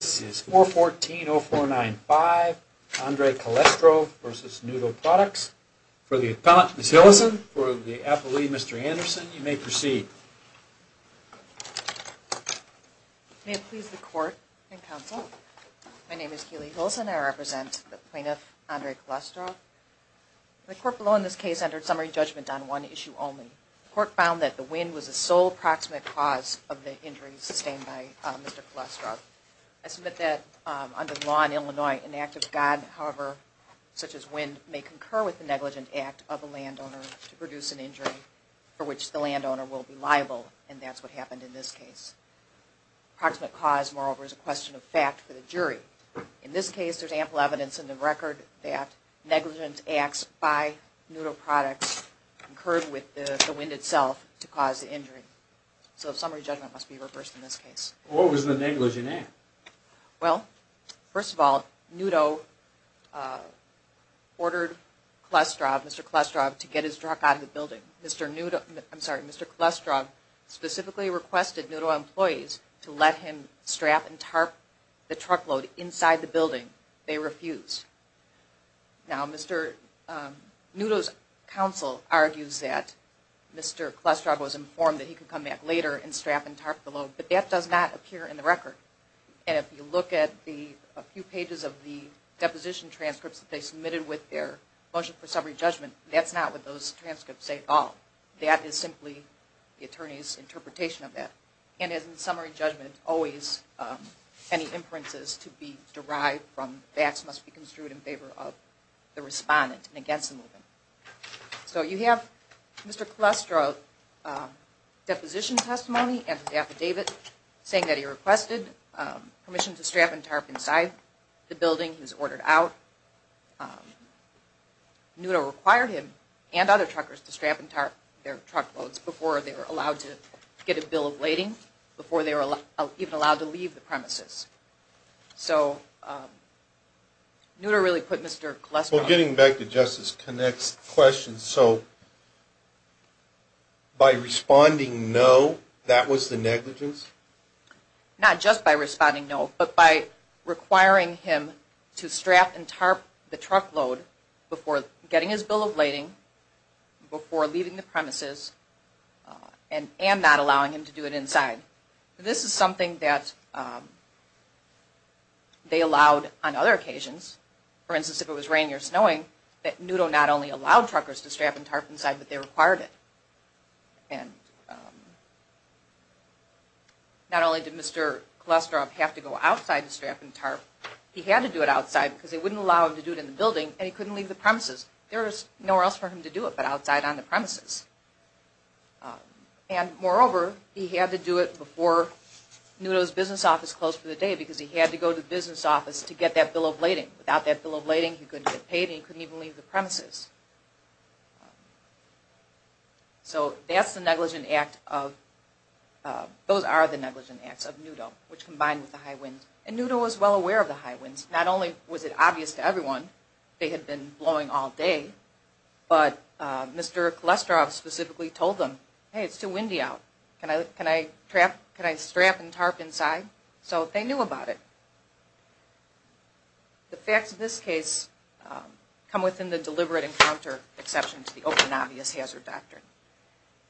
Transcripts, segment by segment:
This is 414-0495 Andre Calestrov v. Nudo Products. For the appellant, Ms. Hillison, for the appellee, Mr. Anderson, you may proceed. May it please the court and counsel, my name is Keely Hillison and I represent the plaintiff, Andre Calestrov. The court below in this case entered summary judgment on one issue only. The court found that the wind was the sole proximate cause of the injury sustained by Mr. Calestrov. I submit that under the law in Illinois, an act of God, however, such as wind, may concur with the negligent act of a landowner to produce an injury for which the landowner will be liable, and that's what happened in this case. Proximate cause, moreover, is a question of fact for the jury. In this case, there's ample evidence in the record that negligent acts by Nudo Products concurred with the wind itself to cause the injury. So summary judgment must be reversed in this case. What was the negligent act? Well, first of all, Nudo ordered Mr. Calestrov to get his truck out of the building. Mr. Calestrov specifically requested Nudo employees to let him strap and tarp the truck load inside the building. They refused. Now, Nudo's counsel argues that Mr. Calestrov was informed that he could come back later and strap and tarp the load. But that does not appear in the record. And if you look at a few pages of the deposition transcripts that they submitted with their motion for summary judgment, that's not what those transcripts say at all. That is simply the attorney's interpretation of that. And as in summary judgment, always any inferences to be derived from facts must be construed in favor of the respondent and against the movement. So you have Mr. Calestrov's deposition testimony and his affidavit saying that he requested permission to strap and tarp inside the building. He was ordered out. Nudo required him and other truckers to strap and tarp their truck loads before they were allowed to get a bill of lading, before they were even allowed to leave the premises. So Nudo really put Mr. Calestrov... Well, getting back to Justice Connick's question, so by responding no, that was the negligence? Not just by responding no, but by requiring him to strap and tarp the truck load before getting his bill of lading, before leaving the premises, and not allowing him to do it inside. This is something that they allowed on other occasions. For instance, if it was raining or snowing, that Nudo not only allowed truckers to strap and tarp inside, but they required it. And not only did Mr. Calestrov have to go outside to strap and tarp, he had to do it outside because they wouldn't allow him to do it in the building and he couldn't leave the premises. There was nowhere else for him to do it but outside on the premises. And moreover, he had to do it before Nudo's business office closed for the day because he had to go to the business office to get that bill of lading. Without that bill of lading, he couldn't get paid and he couldn't even leave the premises. So that's the negligent act of... those are the negligent acts of Nudo, which combined with the high winds. And Nudo was well aware of the high winds. Not only was it obvious to everyone, they had been blowing all day, but Mr. Calestrov specifically told them, hey it's too windy out, can I strap and tarp inside? So they knew about it. The facts of this case come within the deliberate encounter exception to the open and obvious hazard doctrine.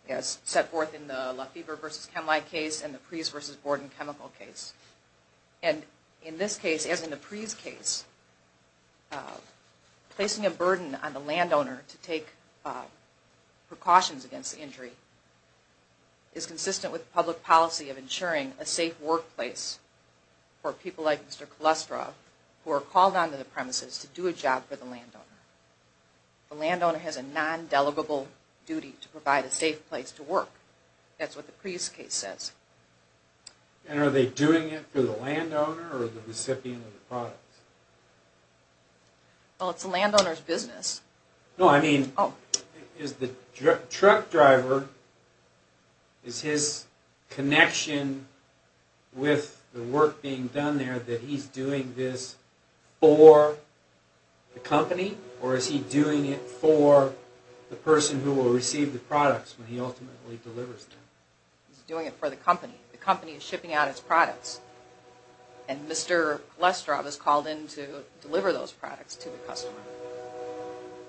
As set forth in the Lefebvre v. Chemline case and the Preece v. Borden chemical case. And in this case, as in the Preece case, placing a burden on the landowner to take precautions against the injury is consistent with public policy of ensuring a safe workplace for people like Mr. Calestrov who are called onto the premises to do a job for the landowner. The landowner has a non-delegable duty to provide a safe place to work. That's what the Preece case says. And are they doing it for the landowner or the recipient of the products? Well, it's the landowner's business. No, I mean, is the truck driver, is his connection with the work being done there that he's doing this for the company or is he doing it for the person who will receive the products when he ultimately delivers them? He's doing it for the company. The company is shipping out its products. And Mr. Calestrov is called in to deliver those products to the customer.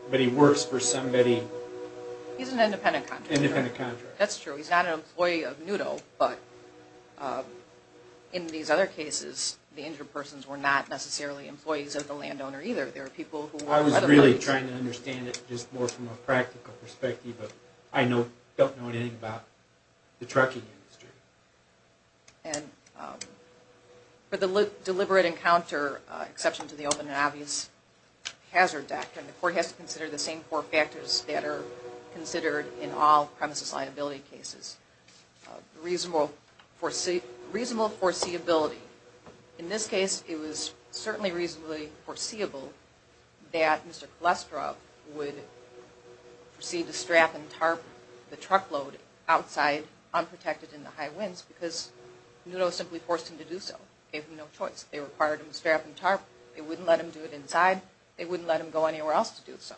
But he works for somebody? He's an independent contractor. Independent contractor. That's true. He's not an employee of NUDO, but in these other cases, the injured persons were not necessarily employees of the landowner either. I was really trying to understand it just more from a practical perspective, but I don't know anything about the trucking industry. And for the deliberate encounter exception to the open and obvious hazard doctrine, the court has to consider the same four factors that are considered in all premises liability cases. Reasonable foreseeability. In this case, it was certainly reasonably foreseeable that Mr. Calestrov would proceed to strap and tarp the truckload outside unprotected in the high winds because NUDO simply forced him to do so. Gave him no choice. They required him to strap and tarp. They wouldn't let him do it inside. They wouldn't let him go anywhere else to do so.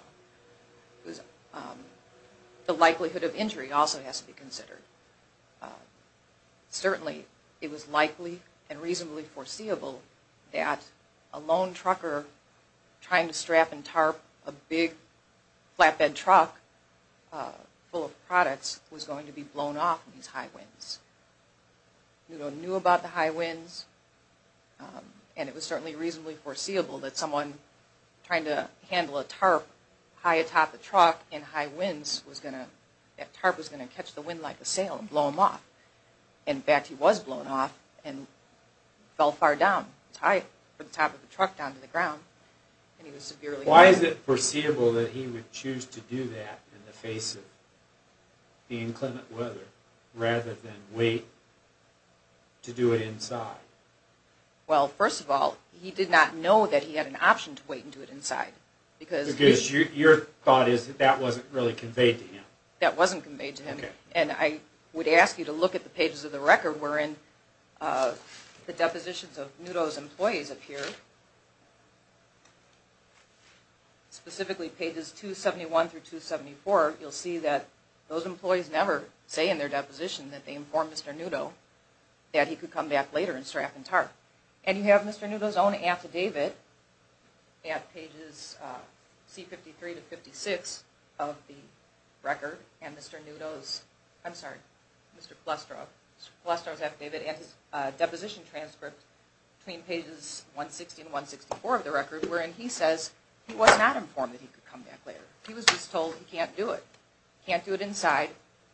The likelihood of injury also has to be considered. Certainly, it was likely and reasonably foreseeable that a lone trucker trying to strap and tarp a big flatbed truck full of products was going to be blown off in these high winds. NUDO knew about the high winds. And it was certainly reasonably foreseeable that someone trying to handle a tarp high atop a truck in high winds was going to catch the wind like a sail and blow him off. In fact, he was blown off and fell far down. It was high from the top of the truck down to the ground. Why is it foreseeable that he would choose to do that in the face of the inclement weather rather than wait to do it inside? Well, first of all, he did not know that he had an option to wait and do it inside. Because your thought is that that wasn't really conveyed to him. That wasn't conveyed to him. And I would ask you to look at the pages of the record wherein the depositions of NUDO's employees appear. Specifically, pages 271 through 274, you'll see that those employees never say in their deposition that they informed Mr. NUDO that he could come back later and strap and tarp. And you have Mr. NUDO's own affidavit at pages C-53 to 56 of the record. And Mr. NUDO's, I'm sorry, Mr. Flestrow. Mr. Flestrow's affidavit at his deposition transcript between pages 160 and 164 of the record wherein he says he was not informed that he could come back later. He was just told he can't do it. Can't do it inside,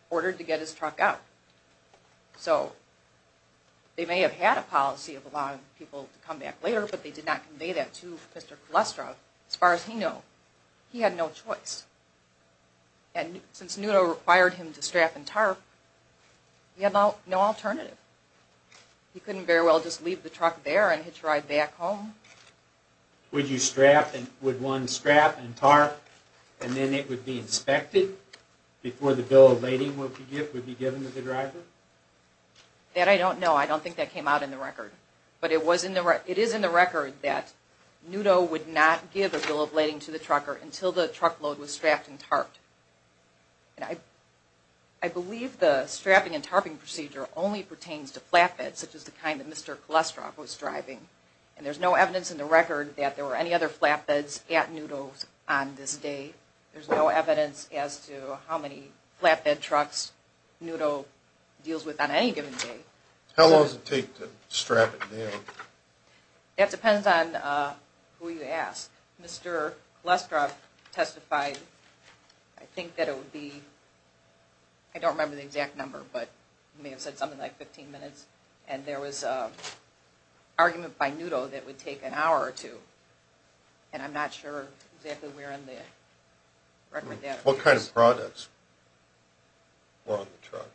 ordered to get his truck out. So they may have had a policy of allowing people to come back later, but they did not convey that to Mr. Flestrow as far as he knew. He had no choice. And since NUDO required him to strap and tarp, he had no alternative. He couldn't very well just leave the truck there and hitch a ride back home. Would one strap and tarp and then it would be inspected before the bill of lading would be given to the driver? That I don't know. I don't think that came out in the record. But it is in the record that NUDO would not give a bill of lading to the trucker until the truck load was strapped and tarped. I believe the strapping and tarping procedure only pertains to flatbeds such as the kind that Mr. Flestrow was driving. And there's no evidence in the record that there were any other flatbeds at NUDO on this day. There's no evidence as to how many flatbed trucks NUDO deals with on any given day. How long does it take to strap it down? That depends on who you ask. Mr. Flestrow testified, I think that it would be, I don't remember the exact number, but he may have said something like 15 minutes. And there was an argument by NUDO that it would take an hour or two. And I'm not sure exactly where in the record that is. What kind of products were on the truck?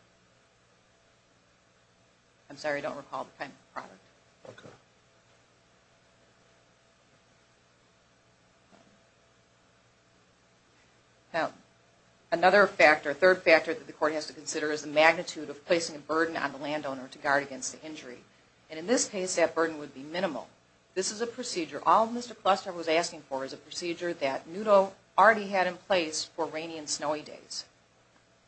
I'm sorry, I don't recall the kind of product. Okay. Another factor, third factor that the court has to consider is the magnitude of placing a burden on the landowner to guard against the injury. And in this case that burden would be minimal. This is a procedure, all Mr. Flestrow was asking for is a procedure that NUDO already had in place for rainy and snowy days.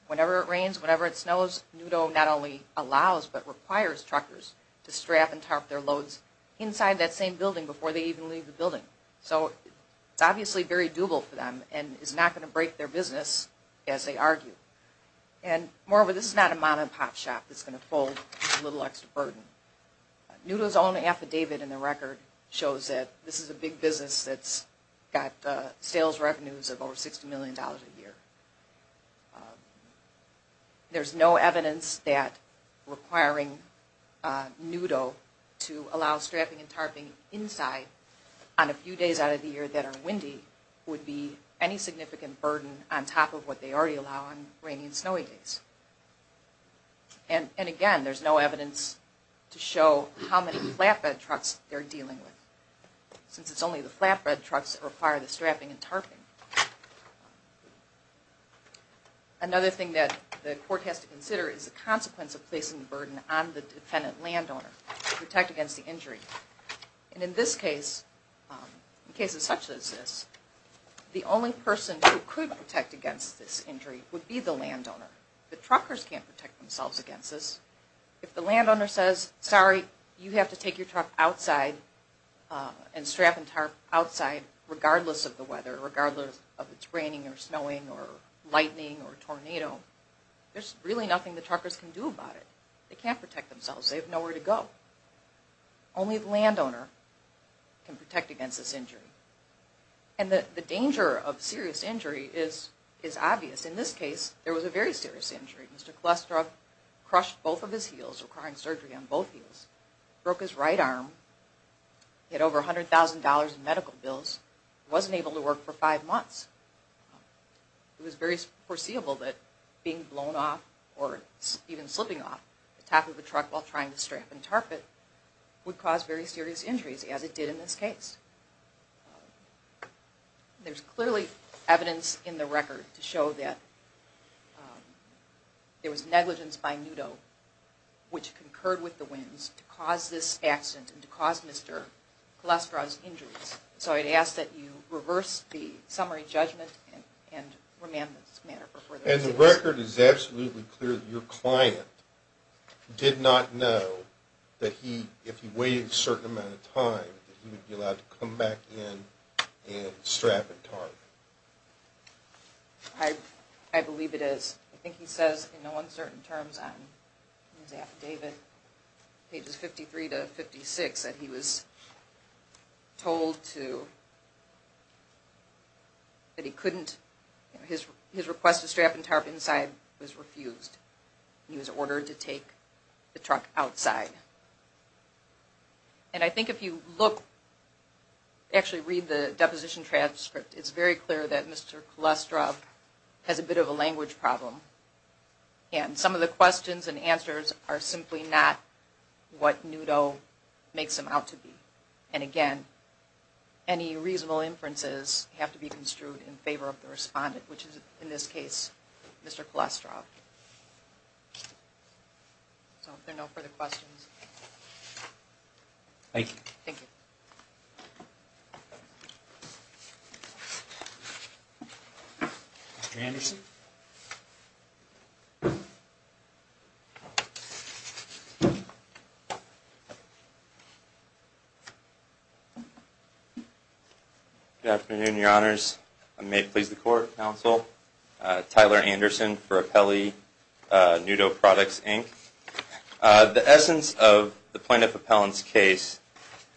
Whenever it rains, whenever it snows, NUDO not only allows but requires truckers to strap and tarp their loads inside that same building before they even leave the building. So it's obviously very doable for them and is not going to break their business as they argue. And moreover, this is not a mom and pop shop that's going to fold a little extra burden. NUDO's own affidavit in the record shows that this is a big business that's got sales revenues of over $60 million a year. There's no evidence that requiring NUDO to allow strapping and tarping inside on a few days out of the year that are windy would be any significant burden on top of what they already allow on rainy and snowy days. And again, there's no evidence to show how many flatbed trucks they're dealing with. Since it's only the flatbed trucks that require the strapping and tarping. Another thing that the court has to consider is the consequence of placing the burden on the defendant landowner to protect against the injury. And in this case, in cases such as this, the only person who could protect against this injury would be the landowner. The truckers can't protect themselves against this. If the landowner says, sorry, you have to take your truck outside and strap and tarp outside regardless of the weather, regardless of if it's raining or snowing or lightning or a tornado, there's really nothing the truckers can do about it. They can't protect themselves. They have nowhere to go. Only the landowner can protect against this injury. And the danger of serious injury is obvious. In this case, there was a very serious injury. Mr. Kolesarov crushed both of his heels, requiring surgery on both heels, broke his right arm, he had over $100,000 in medical bills, and wasn't able to work for five months. It was very foreseeable that being blown off or even slipping off the top of the truck while trying to strap and tarp it would cause very serious injuries, as it did in this case. There's clearly evidence in the record to show that there was negligence by Nudo, which concurred with the Wins, to cause this accident and to cause Mr. Kolesarov's injuries. So I'd ask that you reverse the summary judgment and remand this matter for further investigation. And the record is absolutely clear that your client did not know that if he waited a certain amount of time that he would be allowed to come back in and strap and tarp it. I believe it is. I think he says in no uncertain terms on his affidavit, pages 53 to 56, that he was told that he couldn't. His request to strap and tarp inside was refused. He was ordered to take the truck outside. And I think if you look, actually read the deposition transcript, it's very clear that Mr. Kolesarov has a bit of a language problem. And some of the questions and answers are simply not what Nudo makes him out to be. And again, any reasonable inferences have to be construed in favor of the respondent, which is, in this case, Mr. Kolesarov. So if there are no further questions. Thank you. Thank you. Mr. Anderson. Good afternoon, your honors. I may please the court, counsel. Tyler Anderson for Apelli Nudo Products, Inc. The essence of the plaintiff appellant's case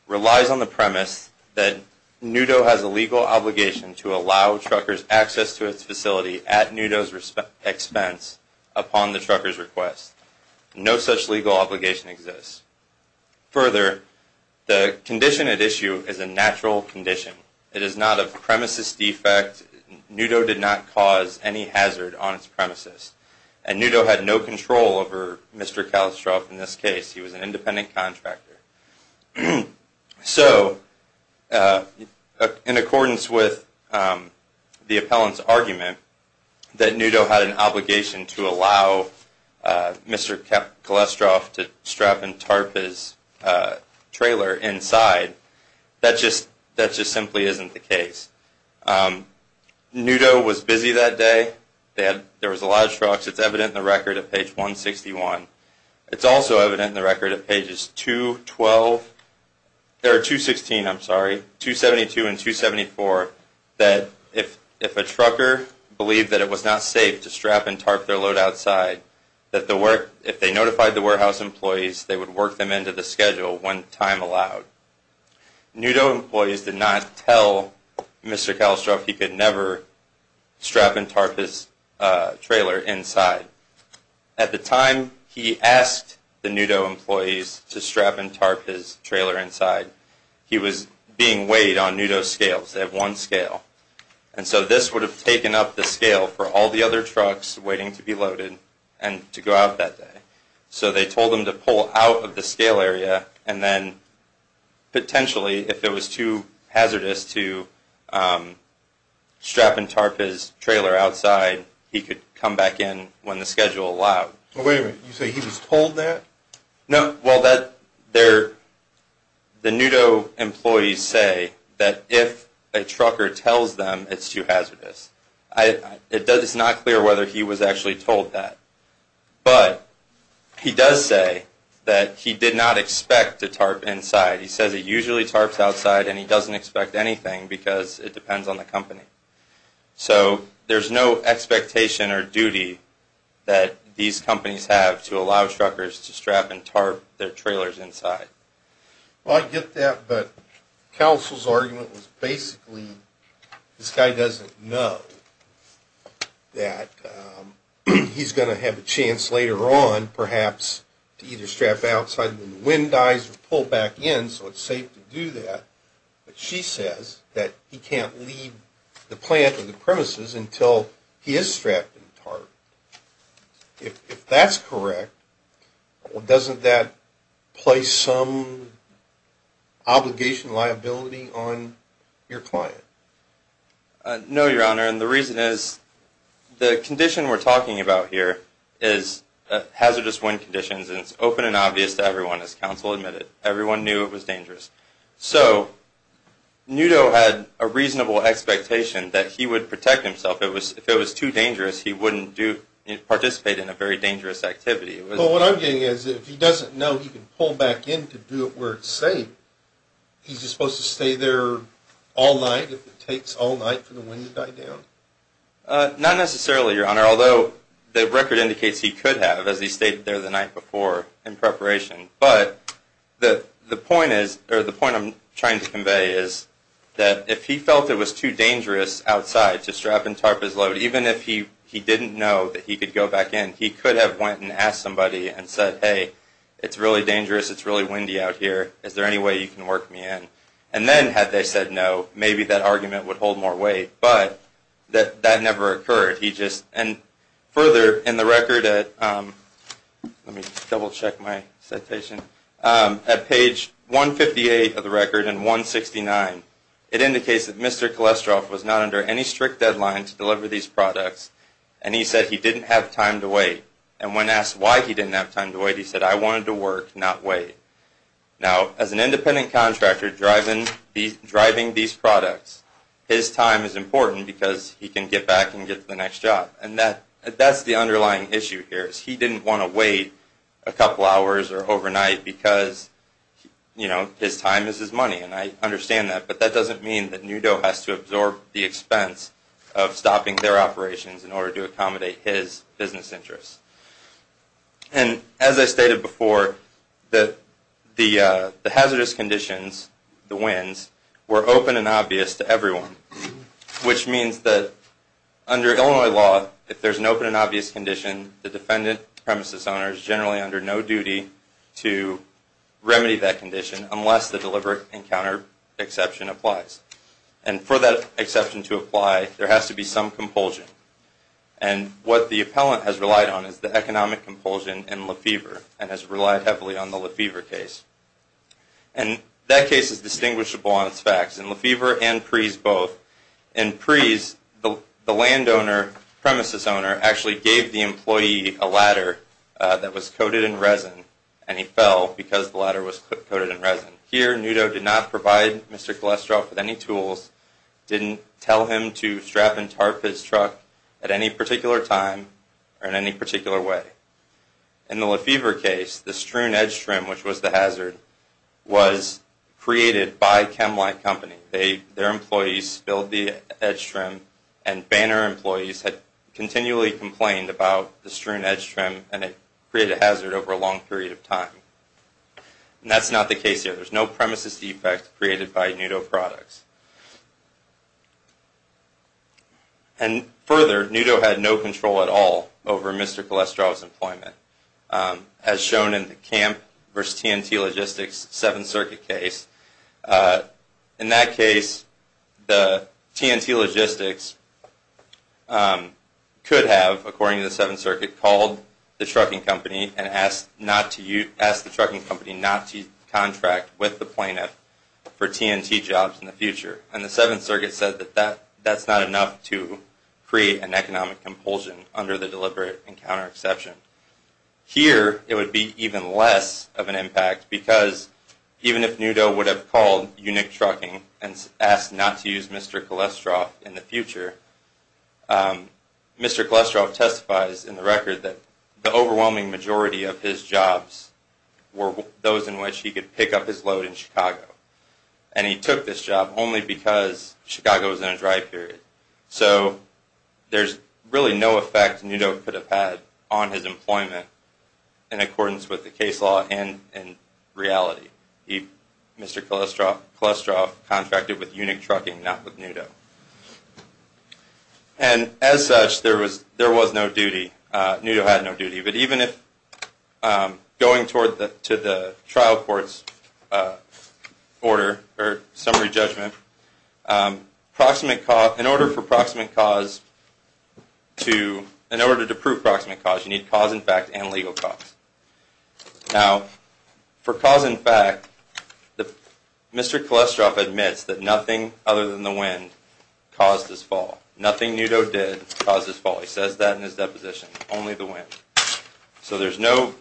relies on the premise that Nudo has a legal obligation to allow truckers access to its facility at Nudo's expense upon the trucker's request. No such legal obligation exists. Further, the condition at issue is a natural condition. It is not a premises defect. Nudo did not cause any hazard on its premises. And Nudo had no control over Mr. Kolesarov in this case. He was an independent contractor. So in accordance with the appellant's argument that Nudo had an obligation to allow Mr. Kolesarov to strap and tarp his trailer inside, that just simply isn't the case. Nudo was busy that day. There was a lot of trucks. It's evident in the record at page 161. It's also evident in the record at pages 216 and 274 that if a trucker believed that it was not safe to strap and tarp their load outside, that if they notified the warehouse employees, they would work them into the schedule when time allowed. Nudo employees did not tell Mr. Kolesarov he could never strap and tarp his trailer inside. At the time he asked the Nudo employees to strap and tarp his trailer inside, he was being weighed on Nudo scales. They have one scale. And so this would have taken up the scale for all the other trucks waiting to be loaded and to go out that day. So they told them to pull out of the scale area and then potentially, if it was too hazardous to strap and tarp his trailer outside, he could come back in when the schedule allowed. Wait a minute. You say he was told that? No. Well, the Nudo employees say that if a trucker tells them it's too hazardous. It's not clear whether he was actually told that. But he does say that he did not expect to tarp inside. He says he usually tarps outside and he doesn't expect anything because it depends on the company. So there's no expectation or duty that these companies have to allow truckers to strap and tarp their trailers inside. Well, I get that, but counsel's argument was basically this guy doesn't know that he's going to have a chance later on, perhaps, to either strap outside when the wind dies or pull back in so it's safe to do that. But she says that he can't leave the plant or the premises until he is strapped and tarped. If that's correct, doesn't that place some obligation, liability on your client? No, Your Honor, and the reason is the condition we're talking about here is hazardous wind conditions, and it's open and obvious to everyone, as counsel admitted. Everyone knew it was dangerous. So Nudo had a reasonable expectation that he would protect himself. If it was too dangerous, he wouldn't participate in a very dangerous activity. Well, what I'm getting at is if he doesn't know he can pull back in to do it where it's safe, he's just supposed to stay there all night if it takes all night for the wind to die down? Not necessarily, Your Honor, although the record indicates he could have, as he stayed there the night before in preparation. But the point I'm trying to convey is that if he felt it was too dangerous outside to strap and tarp his load, even if he didn't know that he could go back in, he could have went and asked somebody and said, hey, it's really dangerous, it's really windy out here, is there any way you can work me in? And then had they said no, maybe that argument would hold more weight. But that never occurred. And further in the record at, let me double check my citation, at page 158 of the record and 169, it indicates that Mr. Kolesroff was not under any strict deadline to deliver these products, and he said he didn't have time to wait. And when asked why he didn't have time to wait, he said, I wanted to work, not wait. Now, as an independent contractor driving these products, his time is important because he can get back and get to the next job. And that's the underlying issue here, is he didn't want to wait a couple hours or overnight because his time is his money, and I understand that. But that doesn't mean that NUDO has to absorb the expense of stopping their operations in order to accommodate his business interests. And as I stated before, the hazardous conditions, the winds, were open and obvious to everyone, which means that under Illinois law, if there's an open and obvious condition, the defendant, premises owner, is generally under no duty to remedy that condition unless the deliberate encounter exception applies. And for that exception to apply, there has to be some compulsion. And what the appellant has relied on is the economic compulsion in Lefevre and has relied heavily on the Lefevre case. And that case is distinguishable on its facts. In Lefevre and Preeze both. In Preeze, the landowner, premises owner, actually gave the employee a ladder that was coated in resin, and he fell because the ladder was coated in resin. Here, NUDO did not provide Mr. Kolesroff with any tools, didn't tell him to strap and tarp his truck at any particular time or in any particular way. In the Lefevre case, the strewn edge trim, which was the hazard, was created by Chemline Company. Their employees spilled the edge trim, and Banner employees had continually complained about the strewn edge trim, and it created a hazard over a long period of time. And that's not the case here. There's no premises defect created by NUDO products. And further, NUDO had no control at all over Mr. Kolesroff's employment, as shown in the Camp v. TNT Logistics 7th Circuit case. In that case, the TNT Logistics could have, according to the 7th Circuit, called the trucking company and asked the trucking company not to contract with the plaintiff for TNT jobs in the future. And the 7th Circuit said that that's not enough to create an economic compulsion under the deliberate encounter exception. Here, it would be even less of an impact, because even if NUDO would have called Unique Trucking and asked not to use Mr. Kolesroff in the future, Mr. Kolesroff testifies in the record that the overwhelming majority of his jobs were those in which he could pick up his load in Chicago. And he took this job only because Chicago was in a dry period. So there's really no effect NUDO could have had on his employment in accordance with the case law and reality. Mr. Kolesroff contracted with Unique Trucking, not with NUDO. And as such, there was no duty. NUDO had no duty. But even if going to the trial court's order or summary judgment, in order to prove proximate cause, you need cause in fact and legal cause. Now, for cause in fact, Mr. Kolesroff admits that nothing other than the wind caused his fall. Nothing NUDO did caused his fall. He says that in his deposition, only the wind. So there's no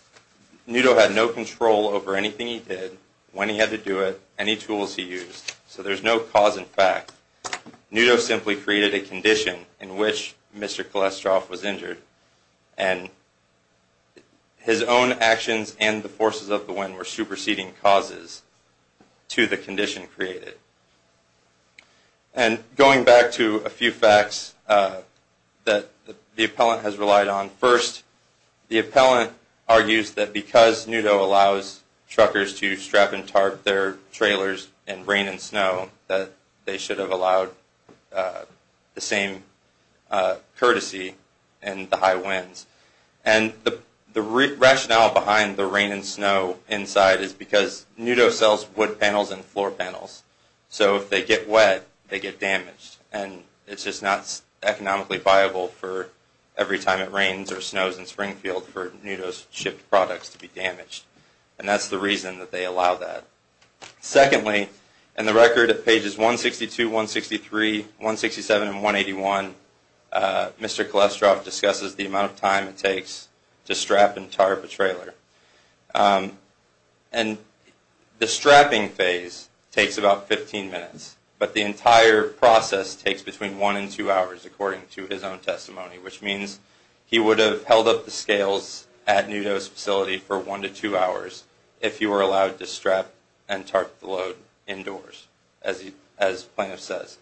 – NUDO had no control over anything he did, when he had to do it, any tools he used. So there's no cause in fact. NUDO simply created a condition in which Mr. Kolesroff was injured. And his own actions and the forces of the wind were superseding causes to the condition created. And going back to a few facts that the appellant has relied on. First, the appellant argues that because NUDO allows truckers to strap and tarp their trailers in rain and snow, that they should have allowed the same courtesy in the high winds. And the rationale behind the rain and snow inside is because NUDO sells wood panels and floor panels. So if they get wet, they get damaged. And it's just not economically viable for every time it rains or snows in Springfield for NUDO's shipped products to be damaged. And that's the reason that they allow that. Secondly, in the record at pages 162, 163, 167, and 181, Mr. Kolesroff discusses the amount of time it takes to strap and tarp a trailer. And the strapping phase takes about 15 minutes. But the entire process takes between one and two hours, according to his own testimony, which means he would have held up the scales at NUDO's facility for one to two hours if he were allowed to strap and tarp the load indoors, as the plaintiff says.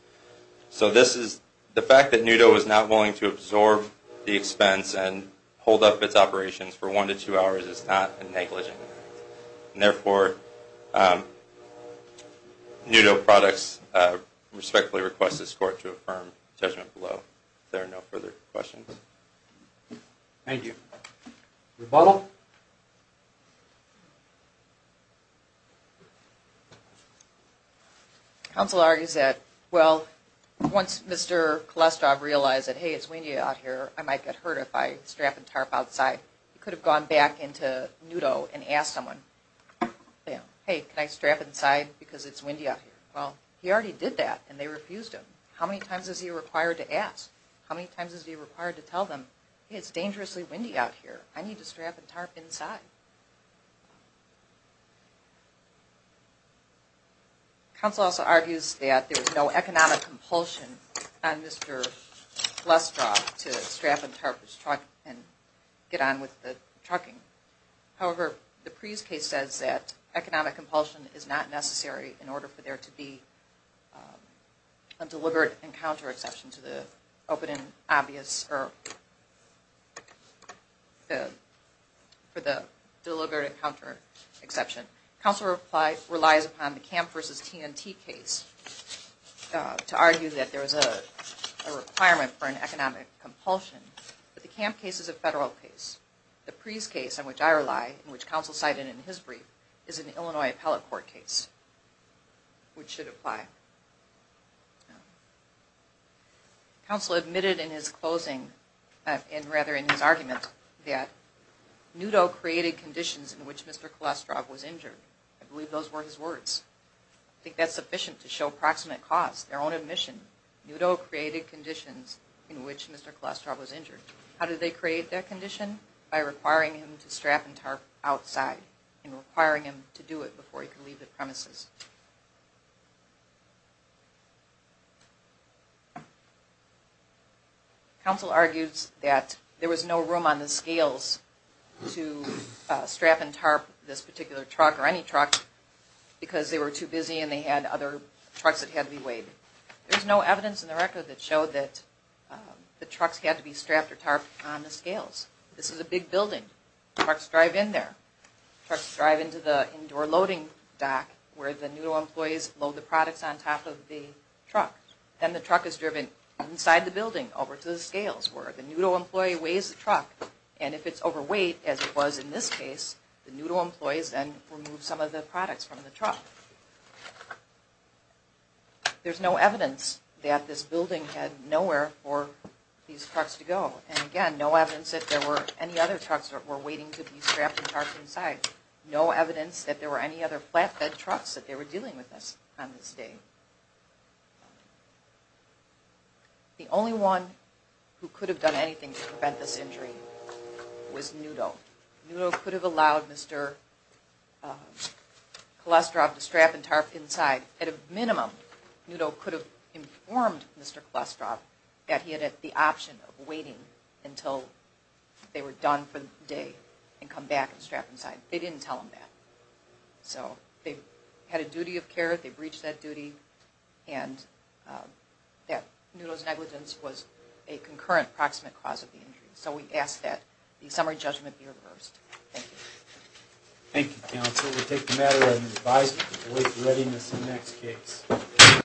So the fact that NUDO is not willing to absorb the expense and hold up its operations for one to two hours is not a negligent offense. And therefore, NUDO Products respectfully requests this court to affirm judgment below. If there are no further questions. Thank you. Rebuttal? Counsel argues that, well, once Mr. Kolesroff realized that, hey, it's windy out here, I might get hurt if I strap and tarp outside. He could have gone back into NUDO and asked someone, hey, can I strap inside because it's windy out here? Well, he already did that, and they refused him. How many times is he required to ask? How many times is he required to tell them, hey, it's dangerously windy out here. I need to strap and tarp. I need to strap and tarp inside. Counsel also argues that there's no economic compulsion on Mr. Lestroff to strap and tarp his truck and get on with the trucking. However, the Preece case says that economic compulsion is not necessary in order for there to be a deliberate encounter exception to the open and closed door. For the deliberate encounter exception. Counsel relies upon the Camp versus TNT case to argue that there is a requirement for an economic compulsion. But the Camp case is a federal case. The Preece case, on which I rely, which counsel cited in his brief, is an Illinois appellate court case, which should apply. Counsel admitted in his closing, and rather in his argument, that Nudo created conditions in which Mr. Lestroff was injured. I believe those were his words. I think that's sufficient to show proximate cause, their own admission. Nudo created conditions in which Mr. Lestroff was injured. How did they create that condition? By requiring him to strap and tarp outside and requiring him to do it before he could leave the premises. Counsel argues that there was no room on the scales to strap and tarp this particular truck, or any truck, because they were too busy and they had other trucks that had to be weighed. There's no evidence in the record that showed that the trucks had to be strapped or tarped on the scales. This is a big building. Trucks drive in there. The Nudo employees load the products on top of the truck. Then the truck is driven inside the building, over to the scales, where the Nudo employee weighs the truck. If it's overweight, as it was in this case, the Nudo employees then remove some of the products from the truck. There's no evidence that this building had nowhere for these trucks to go. Again, no evidence that there were any other trucks that were waiting to be strapped and tarped inside. No evidence that there were any other flatbed trucks that they were dealing with on this day. The only one who could have done anything to prevent this injury was Nudo. Nudo could have allowed Mr. Kolesdrov to strap and tarp inside. At a minimum, Nudo could have informed Mr. Kolesdrov that he had the option of waiting until they were done for the day and come back and strap inside. They didn't tell him that. So they had a duty of care. They breached that duty, and that Nudo's negligence was a concurrent, proximate cause of the injury. So we ask that the summary judgment be reversed. Thank you. Thank you, counsel. We'll take the matter under advisement to wait for readiness in the next case.